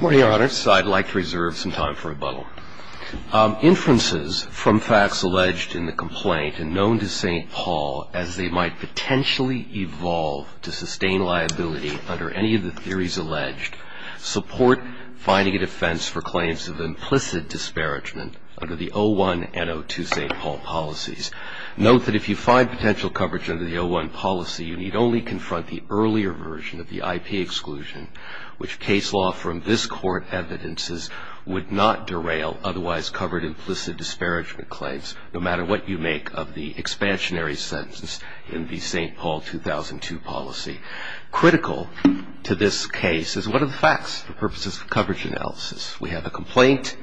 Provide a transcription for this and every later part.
Morning, Your Honors. I'd like to reserve some time for rebuttal. Inferences from facts alleged in the complaint and known to St. Paul as they might potentially evolve to sustain liability under any of the theories alleged support finding a defense for claims of implicit disparagement under the 01 and 02 St. Paul policies. Note that if you find potential coverage under the 01 policy, you need only confront the earlier version of the IP exclusion, which case law from this court evidences would not derail otherwise covered implicit disparagement claims, no matter what you make of the expansionary sentence in the St. Paul 2002 policy. Critical to this case is what are the facts for purposes of coverage analysis. We have a complaint.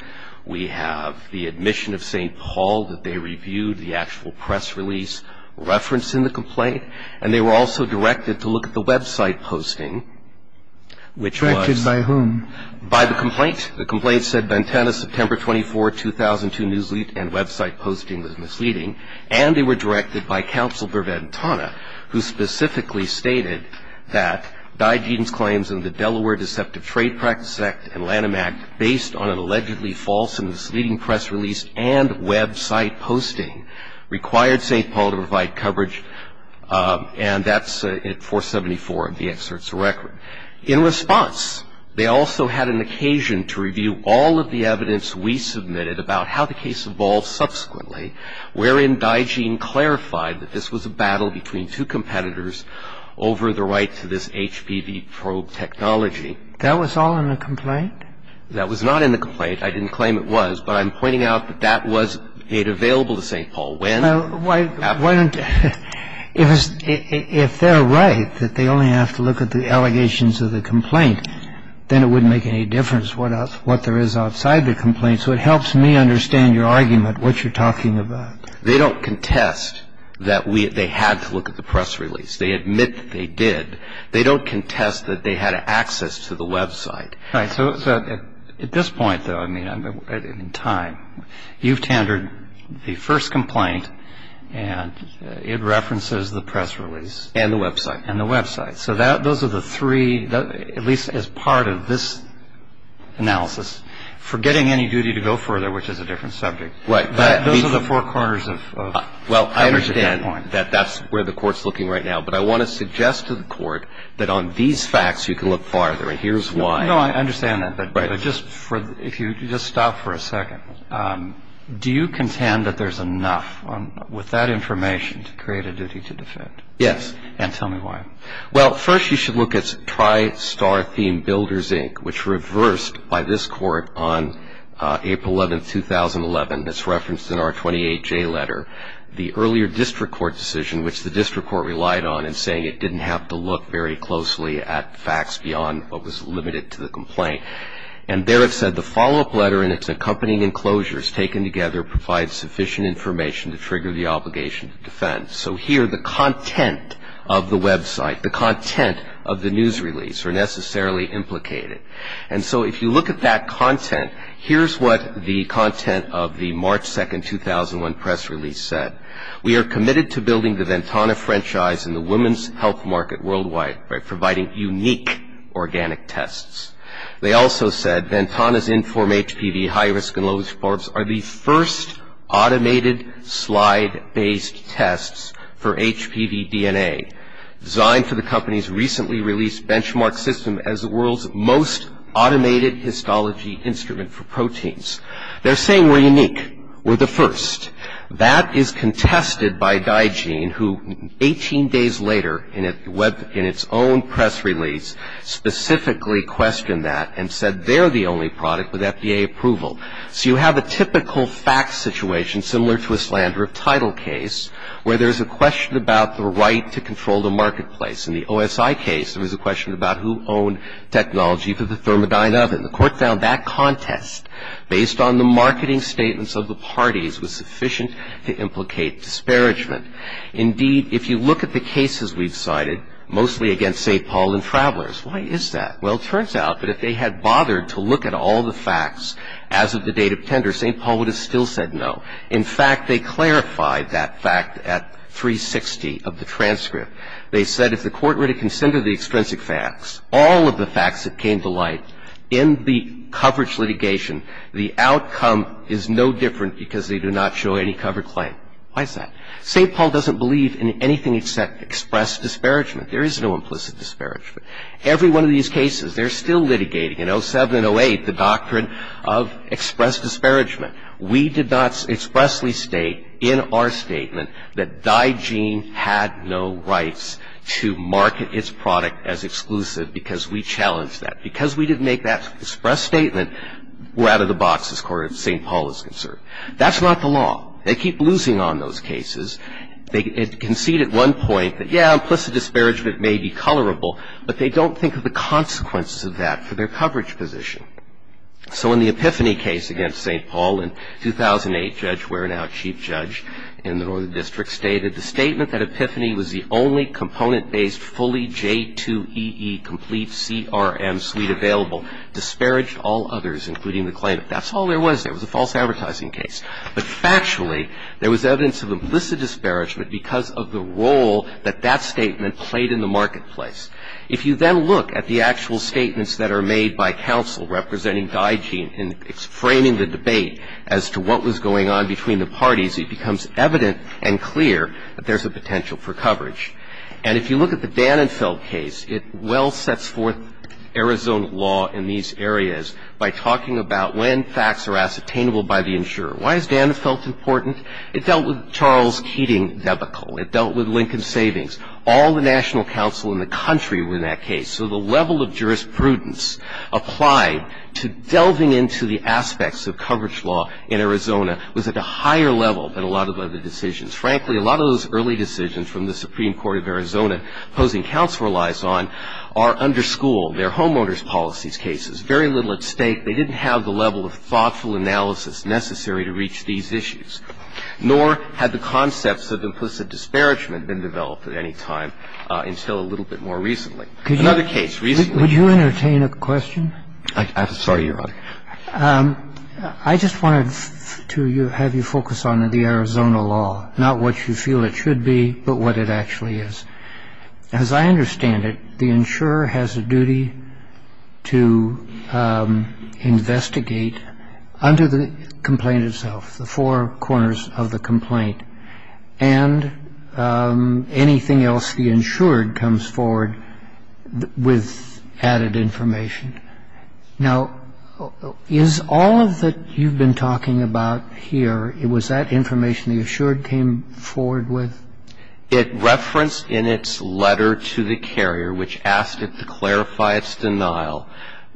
We have the admission of St. Paul that they reviewed, the actual press release reference in the complaint, and they were also directed to look at the website posting, which was. Directed by whom? By the complaint. The complaint said Ventana, September 24, 2002, newsleet and website posting was misleading, and they were directed by Counselor Ventana, who specifically stated that Digeen's claims in the Delaware Deceptive Trade Practice Act and Lanham Act, based on an allegedly false and misleading press release and website posting, required St. Paul to provide coverage, and that's at 474 of the excerpts of record. In response, they also had an occasion to review all of the evidence we submitted about how the case evolved subsequently, wherein Digeen clarified that this was a battle between two competitors over the right to this HPV probe technology. That was all in the complaint? That was not in the complaint. I didn't claim it was, but I'm pointing out that that was made available to St. Paul. When? If they're right that they only have to look at the allegations of the complaint, then it wouldn't make any difference what there is outside the complaint. So it helps me understand your argument, what you're talking about. They don't contest that they had to look at the press release. They admit that they did. They don't contest that they had access to the website. Right. So at this point, though, I mean, in time, you've tendered the first complaint, and it references the press release. And the website. And the website. So those are the three, at least as part of this analysis, forgetting any duty to go further, which is a different subject. Those are the four corners of evidence at that point. Well, I understand that that's where the Court's looking right now, but I want to suggest to the Court that on these facts you can look farther, and here's why. No, I understand that. But if you just stop for a second, do you contend that there's enough with that information to create a duty to defend? Yes. And tell me why. Well, first you should look at TriStar Theme Builders, Inc., which reversed by this Court on April 11, 2011. It's referenced in our 28J letter. The earlier district court decision, which the district court relied on in saying it didn't have to look very closely at facts beyond what was limited to the complaint. And there it said, the follow-up letter and its accompanying enclosures taken together provide sufficient information to trigger the obligation to defend. So here the content of the website, the content of the news release, are necessarily implicated. And so if you look at that content, here's what the content of the March 2, 2001 press release said. We are committed to building the Ventana franchise in the women's health market worldwide by providing unique organic tests. They also said, Ventana's Inform HPV high-risk and low-risk barbs are the first automated slide-based tests for HPV DNA, designed for the company's recently released benchmark system as the world's most automated histology instrument for proteins. They're saying we're unique. We're the first. That is contested by DiGene, who 18 days later, in its own press release, specifically questioned that and said they're the only product with FDA approval. So you have a typical fact situation, similar to a slander of title case, where there's a question about the right to control the marketplace. In the OSI case, there was a question about who owned technology for the Thermodyne oven. The court found that contest, based on the marketing statements of the parties, was sufficient to implicate disparagement. Indeed, if you look at the cases we've cited, mostly against St. Paul and Travelers, why is that? Well, it turns out that if they had bothered to look at all the facts as of the date of tender, St. Paul would have still said no. In fact, they clarified that fact at 360 of the transcript. They said if the court were to consider the extrinsic facts, all of the facts that came to light, in the coverage litigation, the outcome is no different because they do not show any covered claim. Why is that? St. Paul doesn't believe in anything except express disparagement. There is no implicit disparagement. Every one of these cases, they're still litigating, in 07 and 08, the doctrine of express disparagement. We did not expressly state in our statement that DiGene had no rights to market its product as exclusive because we challenged that. Because we didn't make that express statement, we're out of the box, as far as St. Paul is concerned. That's not the law. They keep losing on those cases. They concede at one point that, yeah, implicit disparagement may be colorable, but they don't think of the consequences of that for their coverage position. So in the Epiphany case against St. Paul in 2008, Judge Ware, now Chief Judge in the Northern District, stated the statement that Epiphany was the only component-based fully J2EE complete CRM suite available disparaged all others, including the claimant. That's all there was. It was a false advertising case. But factually, there was evidence of implicit disparagement because of the role that that statement played in the marketplace. If you then look at the actual statements that are made by counsel representing DiGene in framing the debate as to what was going on between the parties, it becomes evident and clear that there's a potential for coverage. And if you look at the Danenfeld case, it well sets forth Arizona law in these areas by talking about when facts are ascertainable by the insurer. Why is Danenfeld important? It dealt with Charles Keating debacle. It dealt with Lincoln Savings. All the national counsel in the country were in that case. So the level of jurisprudence applied to delving into the aspects of coverage law in Arizona was at a higher level than a lot of other decisions. Frankly, a lot of those early decisions from the Supreme Court of Arizona, opposing counsel relies on, are under school. They're homeowners' policies cases, very little at stake. They didn't have the level of thoughtful analysis necessary to reach these issues, nor had the concepts of implicit disparagement been developed at any time until a little bit more recently. Another case recently. Would you entertain a question? I'm sorry, Your Honor. I just wanted to have you focus on the Arizona law, not what you feel it should be, but what it actually is. As I understand it, the insurer has a duty to investigate under the complaint itself, the four corners of the complaint, and anything else the insured comes forward with added information. Now, is all of that you've been talking about here, was that information the insured came forward with? It referenced in its letter to the carrier, which asked it to clarify its denial,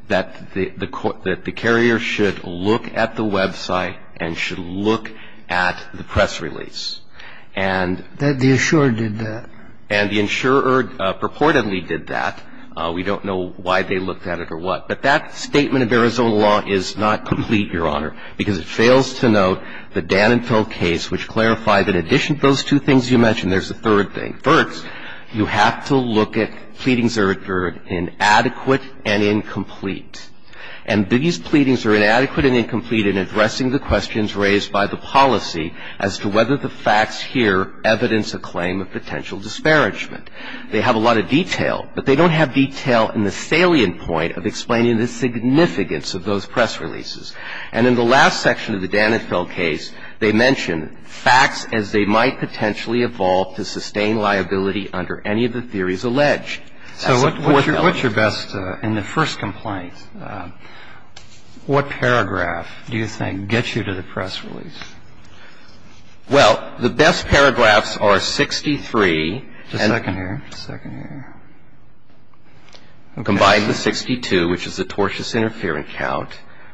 that the carrier should look at the website and should look at the press release. And the insurer did that. And the insurer purportedly did that. We don't know why they looked at it or what. But that statement of Arizona law is not complete, Your Honor, because it fails to note the Dan and Phil case, which clarified that in addition to those two things you mentioned, there's a third thing. And that is that in order to look at the Dan and Phil case, you have to look at the Dan and Phil case first. You have to look at pleadings that are inadequate and incomplete. And these pleadings are inadequate and incomplete in addressing the questions raised by the policy as to whether the facts here evidence a claim of potential disparagement. They have a lot of detail, but they don't have detail in the salient point of explaining the significance of those press releases. And in the last section of the Dan and Phil case, they mention facts as they might potentially evolve to sustain liability under any of the theories alleged. So what's your best, in the first complaint, what paragraph do you think gets you to the press release? Well, the best paragraphs are 63. Just a second here. Just a second here. Combine the 62, which is the tortious interference count,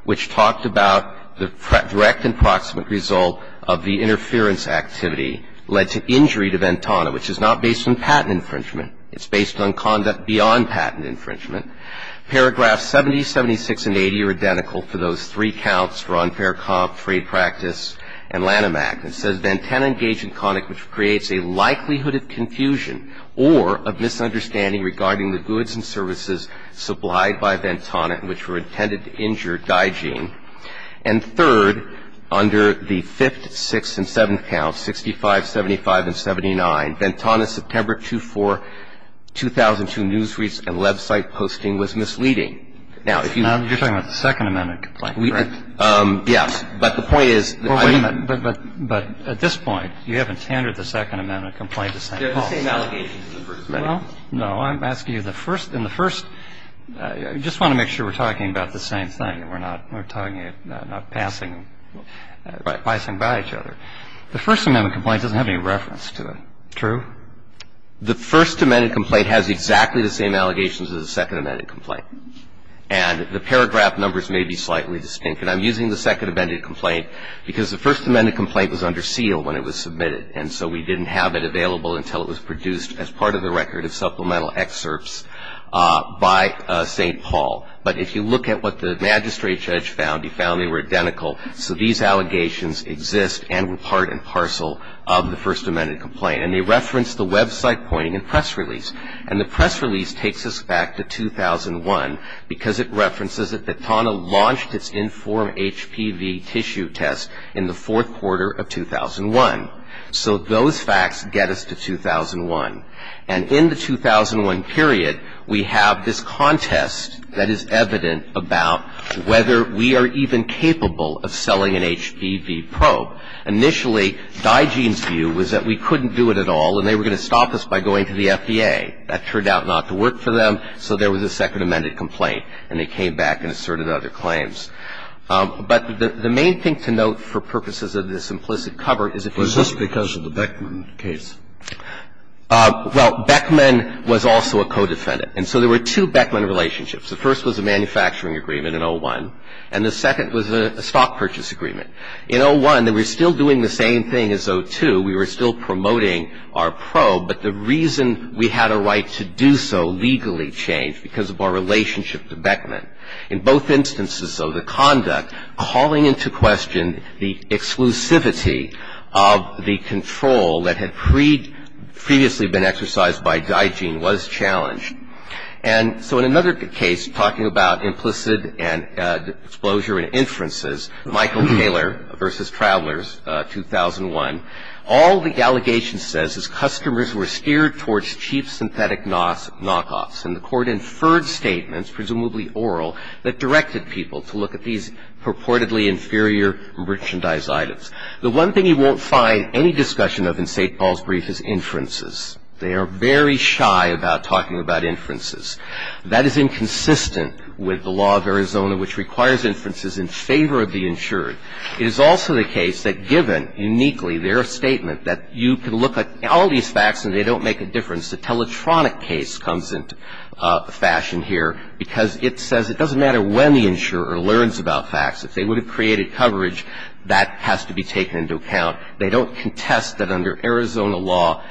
which talked about the direct and proximate result of the interference activity led to injury to Ventana, which is not based on patent infringement. It's based on conduct beyond patent infringement. Paragraphs 70, 76, and 80 are identical for those three counts, for unfair comp, free practice, and Lanham Act. It says, And third, under the fifth, sixth, and seventh counts, 65, 75, and 79, Ventana's September 2-4, 2002 news reads and website posting was misleading. Now, if you ---- You're talking about the Second Amendment complaint, correct? Yes. But the point is, I mean ---- Well, wait a minute. It's a misleading complaint. It's a misleading complaint. It's a misleading complaint. It's a misleading complaint. Well, what I'm saying is, that at this point, you haven't tendered the Second Amendment complaint. There are the same allegations in the First Amendment. Well, no. I'm asking you the First ---- in the First, you just want to make sure we're talking about the same thing and we're not passing them by each other. The First Amendment complaint doesn't have any reference to it. True? The First Amendment complaint has exactly the same allegations as the Second Amendment complaint. And the paragraph numbers may be slightly distinct. And I'm using the Second Amendment complaint because the First Amendment complaint was under seal when it was submitted. And so we didn't have it available until it was produced as part of the record of supplemental excerpts by St. Paul. But if you look at what the magistrate judge found, he found they were identical. So these allegations exist and were part and parcel of the First Amendment complaint. And they reference the website pointing and press release. And the press release takes us back to 2001 because it references that BATANA launched its informed HPV tissue test in the fourth quarter of 2001. So those facts get us to 2001. And in the 2001 period, we have this contest that is evident about whether we are even capable of selling an HPV probe. Initially, Digeen's view was that we couldn't do it at all and they were going to stop us by going to the FDA. That turned out not to work for them, so there was a Second Amendment complaint and they came back and asserted other claims. But the main thing to note for purposes of this implicit cover is if you look at the case. Was this because of the Beckman case? Well, Beckman was also a co-defendant. And so there were two Beckman relationships. The first was a manufacturing agreement in 01, and the second was a stock purchase agreement. In 01, they were still doing the same thing as 02. We were still promoting our probe, but the reason we had a right to do so legally changed because of our relationship to Beckman. In both instances, though, the conduct calling into question the exclusivity of the control that had previously been exercised by Digeen was challenged. And so in another case, talking about implicit and exposure and inferences, Michael Taylor v. Travelers, 2001, all the allegation says is customers were steered towards cheap synthetic knockoffs. And the Court inferred statements, presumably oral, that directed people to look at these purportedly inferior merchandise items. The one thing you won't find any discussion of in St. Paul's brief is inferences. They are very shy about talking about inferences. That is inconsistent with the law of Arizona, which requires inferences in favor of the insured. It is also the case that given uniquely their statement that you can look at all these facts and they don't make a difference, the Teletronic case comes into fashion here because it says it doesn't matter when the insurer learns about facts. If they would have created coverage, that has to be taken into account. They don't contest that under Arizona law,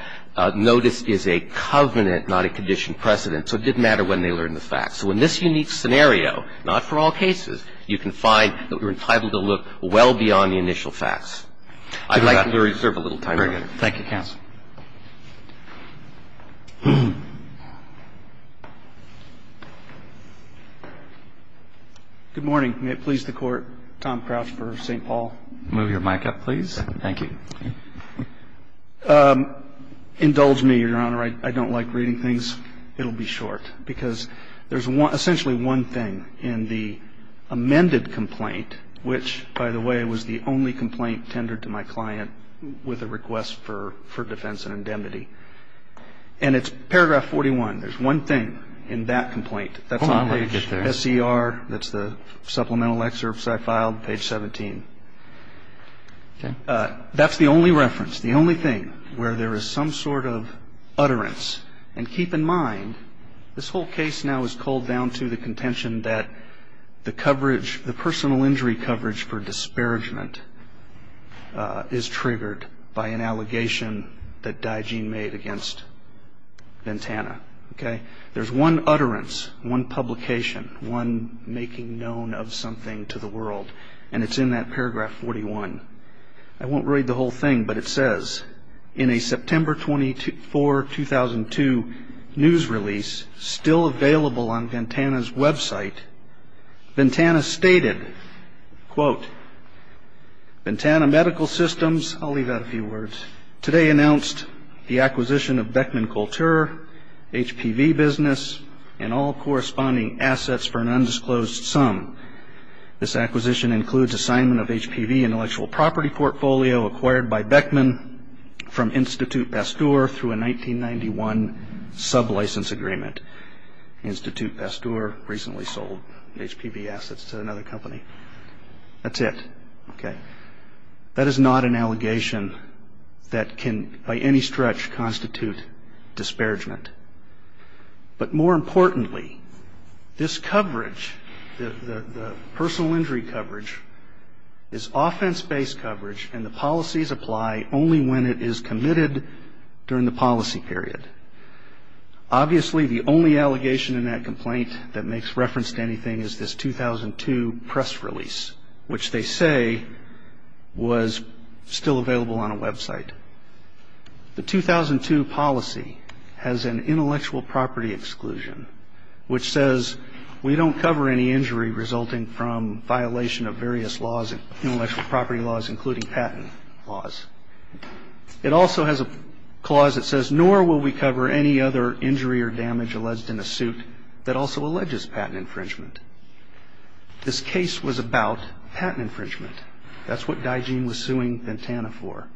notice is a covenant, not a conditioned precedent, so it didn't matter when they learned the facts. So in this unique scenario, not for all cases, you can find that we're entitled to look well beyond the initial facts. I'd like to reserve a little time. Roberts. Thank you, counsel. Good morning. May it please the Court, Tom Crouch for St. Paul. Move your mic up, please. Thank you. Indulge me, Your Honor. I don't like reading things. It will be short because there's essentially one thing in the amended complaint, which, by the way, was the only complaint tendered to my client with a request for defense and indemnity. And it's paragraph 41. There's one thing in that complaint. Hold on, let me get there. That's on page SCR. That's the supplemental excerpts I filed, page 17. Okay. That's the only reference, the only thing, where there is some sort of utterance. And keep in mind, this whole case now is called down to the contention that the coverage, the personal injury coverage for disparagement is triggered by an allegation that Digeen made against Ventana. Okay? There's one utterance, one publication, one making known of something to the I won't read the whole thing, but it says, in a September 24, 2002 news release still available on Ventana's website, Ventana stated, quote, Ventana Medical Systems, I'll leave out a few words, today announced the acquisition of Beckman Couture, HPV business, and all corresponding assets for an undisclosed sum. This acquisition includes assignment of HPV intellectual property portfolio acquired by Beckman from Institute Pasteur through a 1991 sub-license agreement. Institute Pasteur recently sold HPV assets to another company. That's it. Okay. That is not an allegation that can, by any stretch, constitute disparagement. But more importantly, this coverage, the personal injury coverage, is offense-based coverage, and the policies apply only when it is committed during the policy period. Obviously, the only allegation in that complaint that makes reference to anything is this 2002 press release, which they say was still available on a website. The 2002 policy has an intellectual property exclusion, which says we don't cover any injury resulting from violation of various laws, intellectual property laws, including patent laws. It also has a clause that says, nor will we cover any other injury or damage alleged in a suit that also alleges patent infringement. This case was about patent infringement. That's what Digeen was suing Ventana for.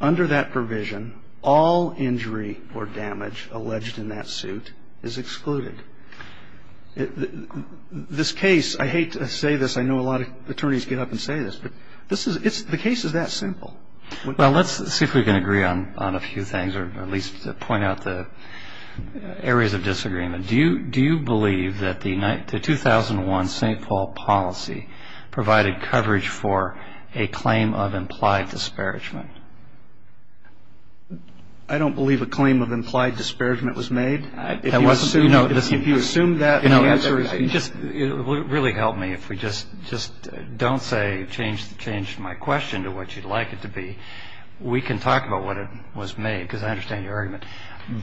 Under that provision, all injury or damage alleged in that suit is excluded. This case, I hate to say this, I know a lot of attorneys get up and say this, but the case is that simple. Well, let's see if we can agree on a few things, or at least point out the areas of disagreement. Do you believe that the 2001 St. Paul policy provided coverage for a claim of implied disparagement? I don't believe a claim of implied disparagement was made. If you assume that, the answer is no. It would really help me if we just don't say, change my question to what you'd like it to be. We can talk about what it was made, because I understand your argument.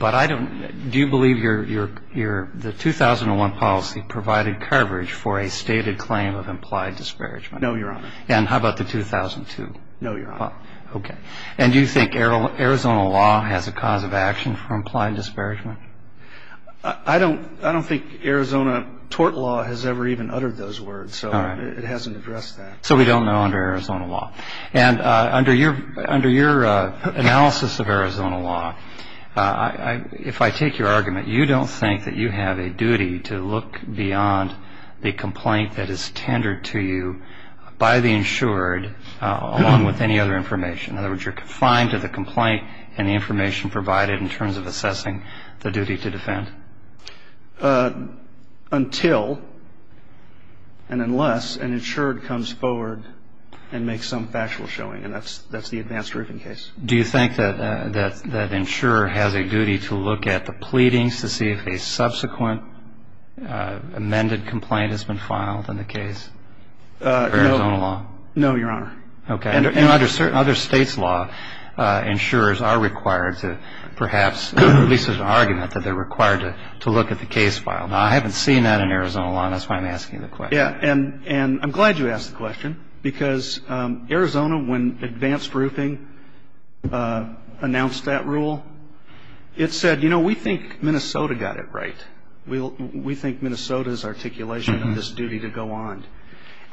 But do you believe the 2001 policy provided coverage for a stated claim of implied disparagement? No, Your Honor. And how about the 2002? No, Your Honor. Okay. And do you think Arizona law has a cause of action for implied disparagement? I don't think Arizona tort law has ever even uttered those words, so it hasn't addressed that. So we don't know under Arizona law. And under your analysis of Arizona law, if I take your argument, you don't think that you have a duty to look beyond the complaint that is tendered to you by the insured, along with any other information. In other words, you're confined to the complaint and the information provided in terms of assessing the duty to defend. Until and unless an insured comes forward and makes some factual showing, and that's the advanced roofing case. Do you think that insurer has a duty to look at the pleadings to see if a subsequent amended complaint has been filed in the case, Arizona law? No, Your Honor. Okay. And under certain other states' law, insurers are required to perhaps, at least there's an argument that they're required to look at the case file. Now, I haven't seen that in Arizona law, and that's why I'm asking the question. Yeah, and I'm glad you asked the question, because Arizona, when advanced roofing announced that rule, it said, you know, we think Minnesota got it right. We think Minnesota's articulation of this duty to go on.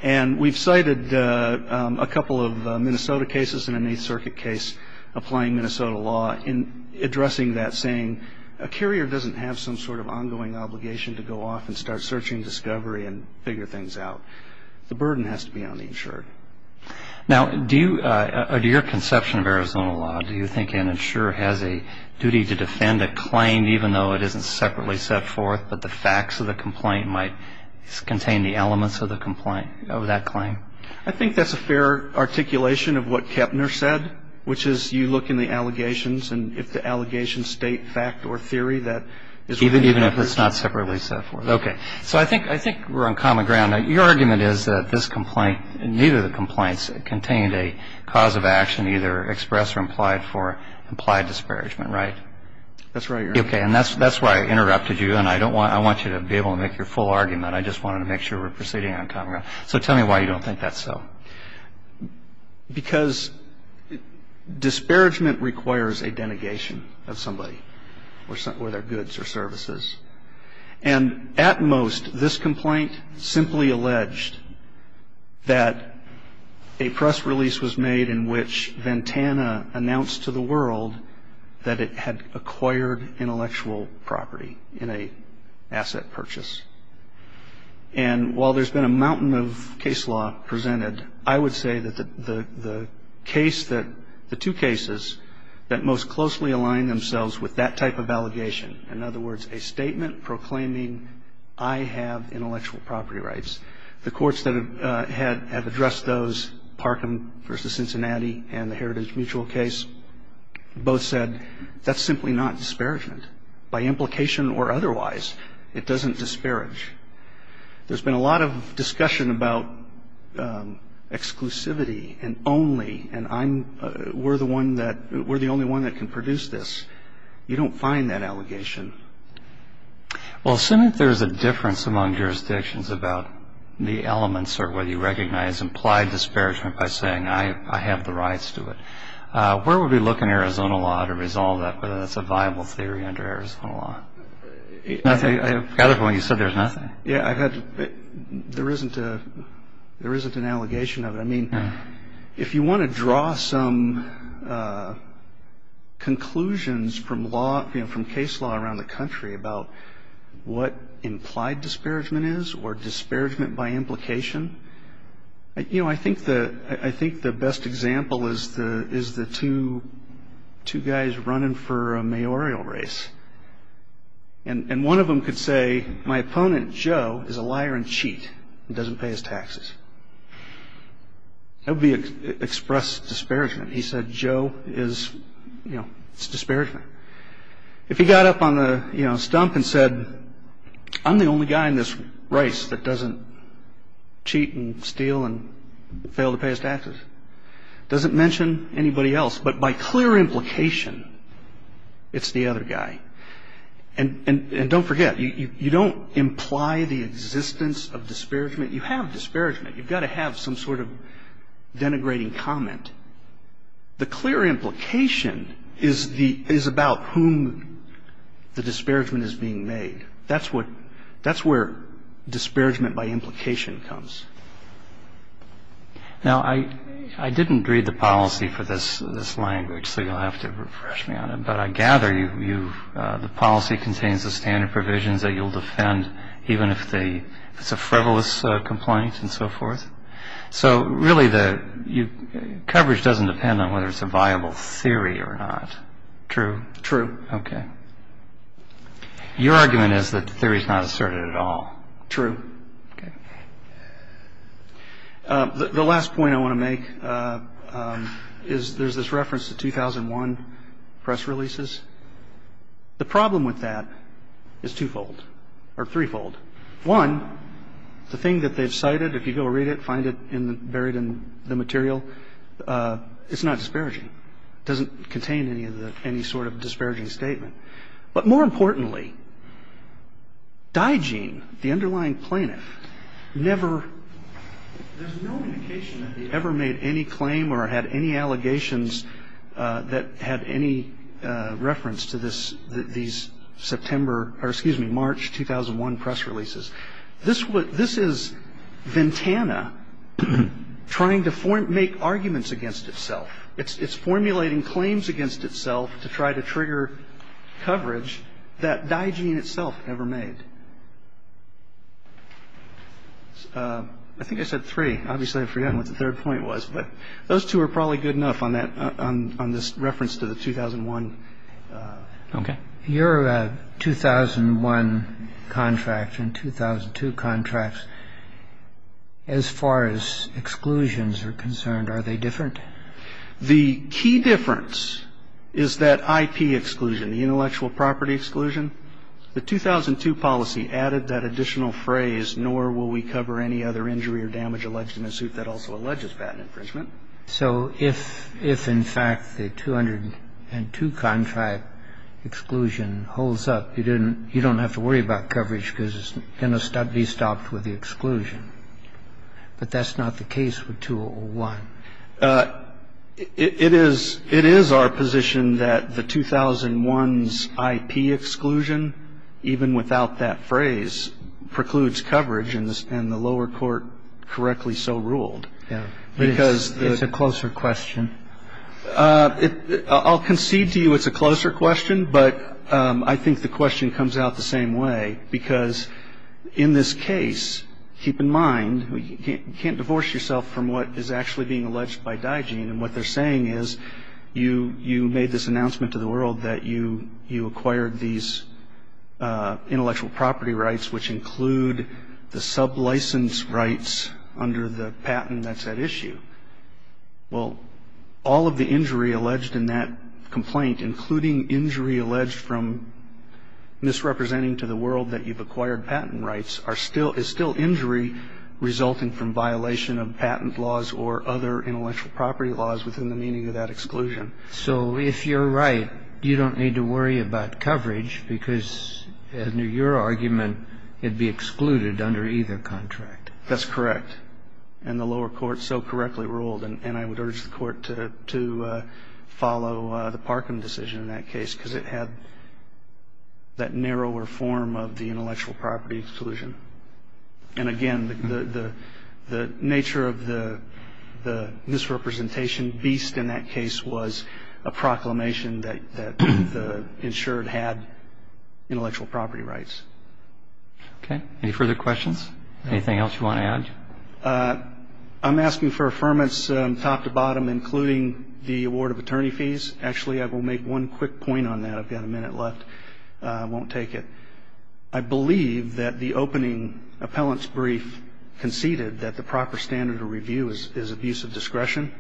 And we've cited a couple of Minnesota cases and an Eighth Circuit case applying Minnesota law in addressing that, saying a carrier doesn't have some sort of ongoing obligation to go off and start searching discovery and figure things out. The burden has to be on the insured. Now, do your conception of Arizona law, do you think an insurer has a duty to defend a claim, even though it isn't separately set forth, but the facts of the complaint might contain the elements of that claim? I think that's a fair articulation of what Kepner said, which is you look in the allegations, and if the allegations state fact or theory, that is what you're looking for. Even if it's not separately set forth. Okay. So I think we're on common ground. Your argument is that this complaint, neither of the complaints contained a cause of action either expressed or implied for implied disparagement, right? That's right, Your Honor. Okay, and that's why I interrupted you, and I want you to be able to make your full argument. I just wanted to make sure we're proceeding on common ground. So tell me why you don't think that's so. Because disparagement requires a denigration of somebody or their goods or services. And at most, this complaint simply alleged that a press release was made in which Ventana announced to the world that it had acquired intellectual property in an asset purchase. And while there's been a mountain of case law presented, I would say that the two cases that most closely aligned themselves with that type of allegation, in other words, a statement proclaiming, I have intellectual property rights, the courts that have addressed those, Parkham v. Cincinnati and the Heritage Mutual case, both said that's simply not disparagement. By implication or otherwise, it doesn't disparage. There's been a lot of discussion about exclusivity and only, and we're the only one that can produce this. You don't find that allegation. Well, assuming there's a difference among jurisdictions about the elements or whether you recognize implied disparagement by saying I have the rights to it, where would we look in Arizona law to resolve that, whether that's a viable theory under Arizona law? I forgot it when you said there's nothing. There isn't an allegation of it. I mean, if you want to draw some conclusions from case law around the country about what implied disparagement is or disparagement by implication, you know, I think the best example is the two guys running for a mayoral race. And one of them could say, my opponent, Joe, is a liar and cheat and doesn't pay his taxes. That would be expressed disparagement. He said, Joe is, you know, it's disparagement. If he got up on the, you know, stump and said, I'm the only guy in this race that doesn't cheat and steal and fail to pay his taxes, doesn't mention anybody else, but by clear implication, it's the other guy. And don't forget, you don't imply the existence of disparagement. You have disparagement. You've got to have some sort of denigrating comment. The clear implication is about whom the disparagement is being made. That's where disparagement by implication comes. Now, I didn't read the policy for this language, so you'll have to refresh me on it. But I gather the policy contains the standard provisions that you'll defend, even if it's a frivolous complaint and so forth. So, really, the coverage doesn't depend on whether it's a viable theory or not. True? True. Okay. Your argument is that the theory is not asserted at all. True. Okay. The last point I want to make is there's this reference to 2001 press releases. The problem with that is twofold or threefold. One, the thing that they've cited, if you go read it, find it buried in the material, it's not disparaging. It doesn't contain any sort of disparaging statement. But more importantly, Digeen, the underlying plaintiff, never – there's no indication that he ever made any claim or had any allegations that had any reference to these September – or, excuse me, March 2001 press releases. This is Ventana trying to make arguments against itself. It's formulating claims against itself to try to trigger coverage that Digeen itself never made. I think I said three. Obviously, I've forgotten what the third point was. Those two are probably good enough on this reference to the 2001. Okay. Your 2001 contract and 2002 contracts, as far as exclusions are concerned, are they different? The key difference is that IP exclusion, the intellectual property exclusion. The 2002 policy added that additional phrase, nor will we cover any other injury or damage alleged in a suit that also alleges patent infringement. So if, in fact, the 202 contract exclusion holds up, you don't have to worry about coverage because it's going to be stopped with the exclusion. But that's not the case with 201. It is our position that the 2001's IP exclusion, even without that phrase, precludes coverage, and the lower court correctly so ruled. Yeah. It's a closer question. I'll concede to you it's a closer question, but I think the question comes out the same way, because in this case, keep in mind, you can't divorce yourself from what is actually being alleged by DIGENE, and what they're saying is you made this announcement to the world that you acquired these intellectual property rights, which include the sublicense rights under the patent that's at issue. Well, all of the injury alleged in that complaint, including injury alleged from misrepresenting to the world that you've acquired patent rights, are still – is still injury resulting from violation of patent laws or other intellectual property laws within the meaning of that exclusion. So if you're right, you don't need to worry about coverage because, under your argument, it would be excluded under either contract. That's correct. And the lower court so correctly ruled, and I would urge the court to follow the Parkham decision in that case, because it had that narrower form of the intellectual property exclusion. And, again, the nature of the misrepresentation beast in that case was a proclamation that the insured had intellectual property rights. Okay. Any further questions? Anything else you want to add? I'm asking for affirmance top to bottom, including the award of attorney fees. Actually, I will make one quick point on that. I've got a minute left. I won't take it. I believe that the opening appellant's brief conceded that the proper standard of review is abuse of discretion.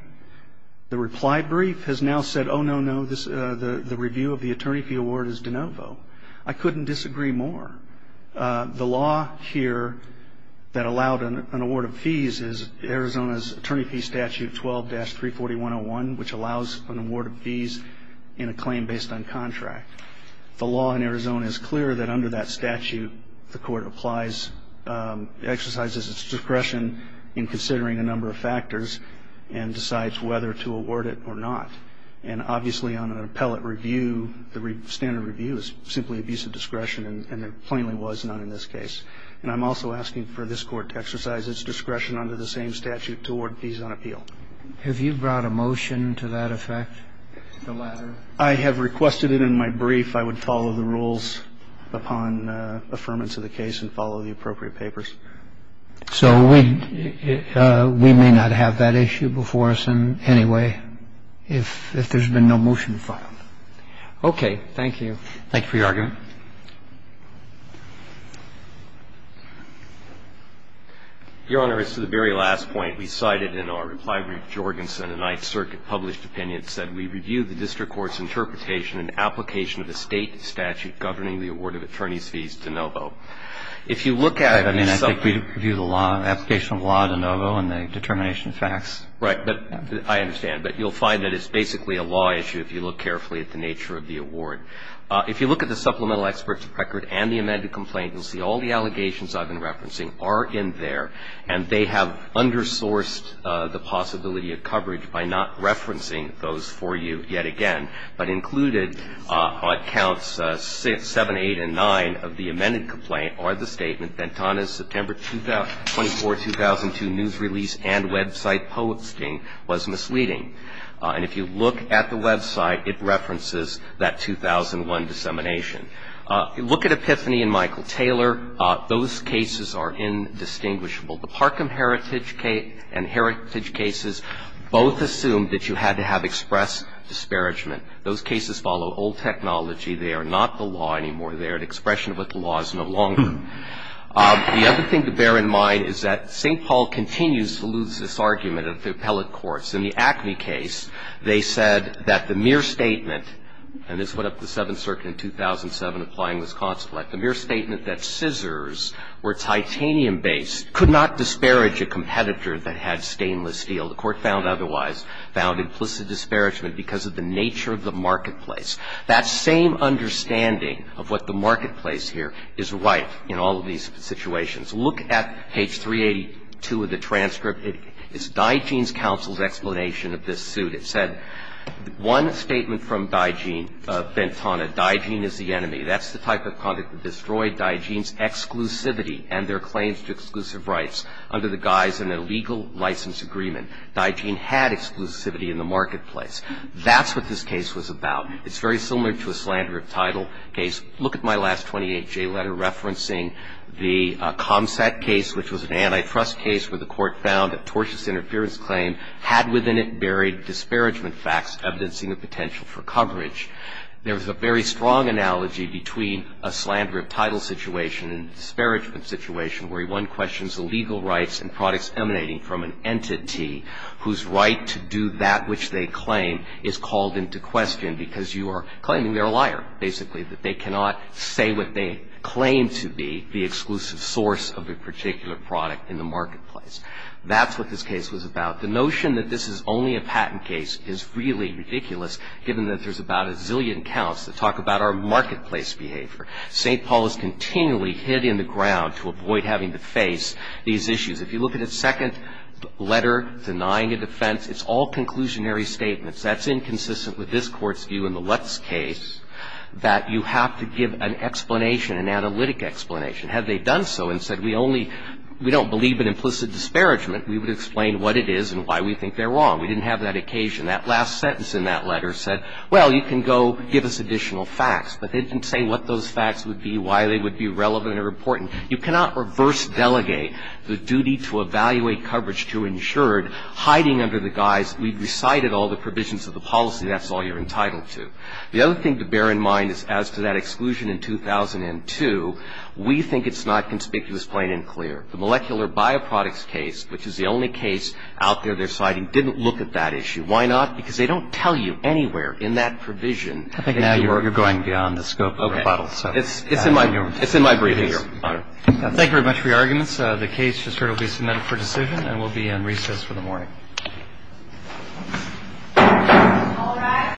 The reply brief has now said, oh, no, no, the review of the attorney fee award is de novo. I couldn't disagree more. The law here that allowed an award of fees is Arizona's attorney fee statute 12-34101, which allows an award of fees in a claim based on contract. The law in Arizona is clear that under that statute, the court applies exercises its discretion in considering a number of factors and decides whether to award it or not. And obviously, on an appellate review, the standard review is simply abuse of discretion, and there plainly was none in this case. And I'm also asking for this Court to exercise its discretion under the same statute to award fees on appeal. Have you brought a motion to that effect? The latter. I have requested it in my brief. I would follow the rules upon affirmance of the case and follow the appropriate papers. So we may not have that issue before us in any way if there's been no motion filed. Okay. Thank you. Thank you for your argument. Your Honor, as to the very last point, we cited in our reply brief, Jorgensen, a Ninth Circuit-published opinion that said we review the district court's interpretation and application of a State statute governing the award of attorney's fees de novo. I mean, I think we review the law, application of law de novo and the determination of facts. Right. But I understand. But you'll find that it's basically a law issue if you look carefully at the nature of the award. If you look at the supplemental experts record and the amended complaint, you'll see all the allegations I've been referencing are in there, and they have undersourced the possibility of coverage by not referencing those for you yet again, but included on counts 7, 8, and 9 of the amended complaint are the statement that Tana's September 24, 2002, news release and website posting was misleading. And if you look at the website, it references that 2001 dissemination. Look at Epiphany and Michael Taylor. Those cases are indistinguishable. The Parkham heritage case and heritage cases both assumed that you had to have express disparagement. Those cases follow old technology. They are not the law anymore. They are an expression of what the law is no longer. The other thing to bear in mind is that St. Paul continues to lose this argument of the appellate courts. In the Acme case, they said that the mere statement, and this went up to the Seventh Circuit in 2007 applying Wisconsin Act, the mere statement that scissors were titanium-based could not disparage a competitor that had stainless steel. The Court found otherwise, found implicit disparagement because of the nature of the marketplace. That same understanding of what the marketplace here is right in all of these situations. Look at page 382 of the transcript. It's Digeen's counsel's explanation of this suit. It said one statement from Digeen, Bentana, Digeen is the enemy. That's the type of conduct that destroyed Digeen's exclusivity and their claims to exclusive rights under the guise of an illegal license agreement. Digeen had exclusivity in the marketplace. That's what this case was about. It's very similar to a slander of title case. Look at my last 28J letter referencing the ComSat case, which was an antitrust case where the Court found that tortious interference claim had within it buried disparagement facts evidencing a potential for coverage. There was a very strong analogy between a slander of title situation and a disparagement situation where one questions the legal rights and products emanating from an entity whose right to do that which they claim is called into question because you are claiming they're a liar, basically, that they cannot say what they claim to be, the exclusive source of a particular product in the marketplace. That's what this case was about. The notion that this is only a patent case is really ridiculous given that there's about a zillion counts that talk about our marketplace behavior. St. Paul is continually hit in the ground to avoid having to face these issues. If you look at its second letter denying a defense, it's all conclusionary statements. That's inconsistent with this Court's view in the Lutz case that you have to give an explanation, an analytic explanation. Had they done so and said we only we don't believe in implicit disparagement, we would explain what it is and why we think they're wrong. We didn't have that occasion. That last sentence in that letter said, well, you can go give us additional facts, but they didn't say what those facts would be, why they would be relevant or important. You cannot reverse delegate the duty to evaluate coverage to insured, hiding under the guise we've recited all the provisions of the policy, that's all you're entitled to. The other thing to bear in mind is as to that exclusion in 2002, we think it's not conspicuous, plain and clear. The molecular bioproducts case, which is the only case out there they're citing, didn't look at that issue. Why not? Because they don't tell you anywhere in that provision. I think now you're going beyond the scope of the bottle. It's in my briefings. Thank you very much for your arguments. The case just heard will be submitted for decision and will be in recess for the morning. All rise.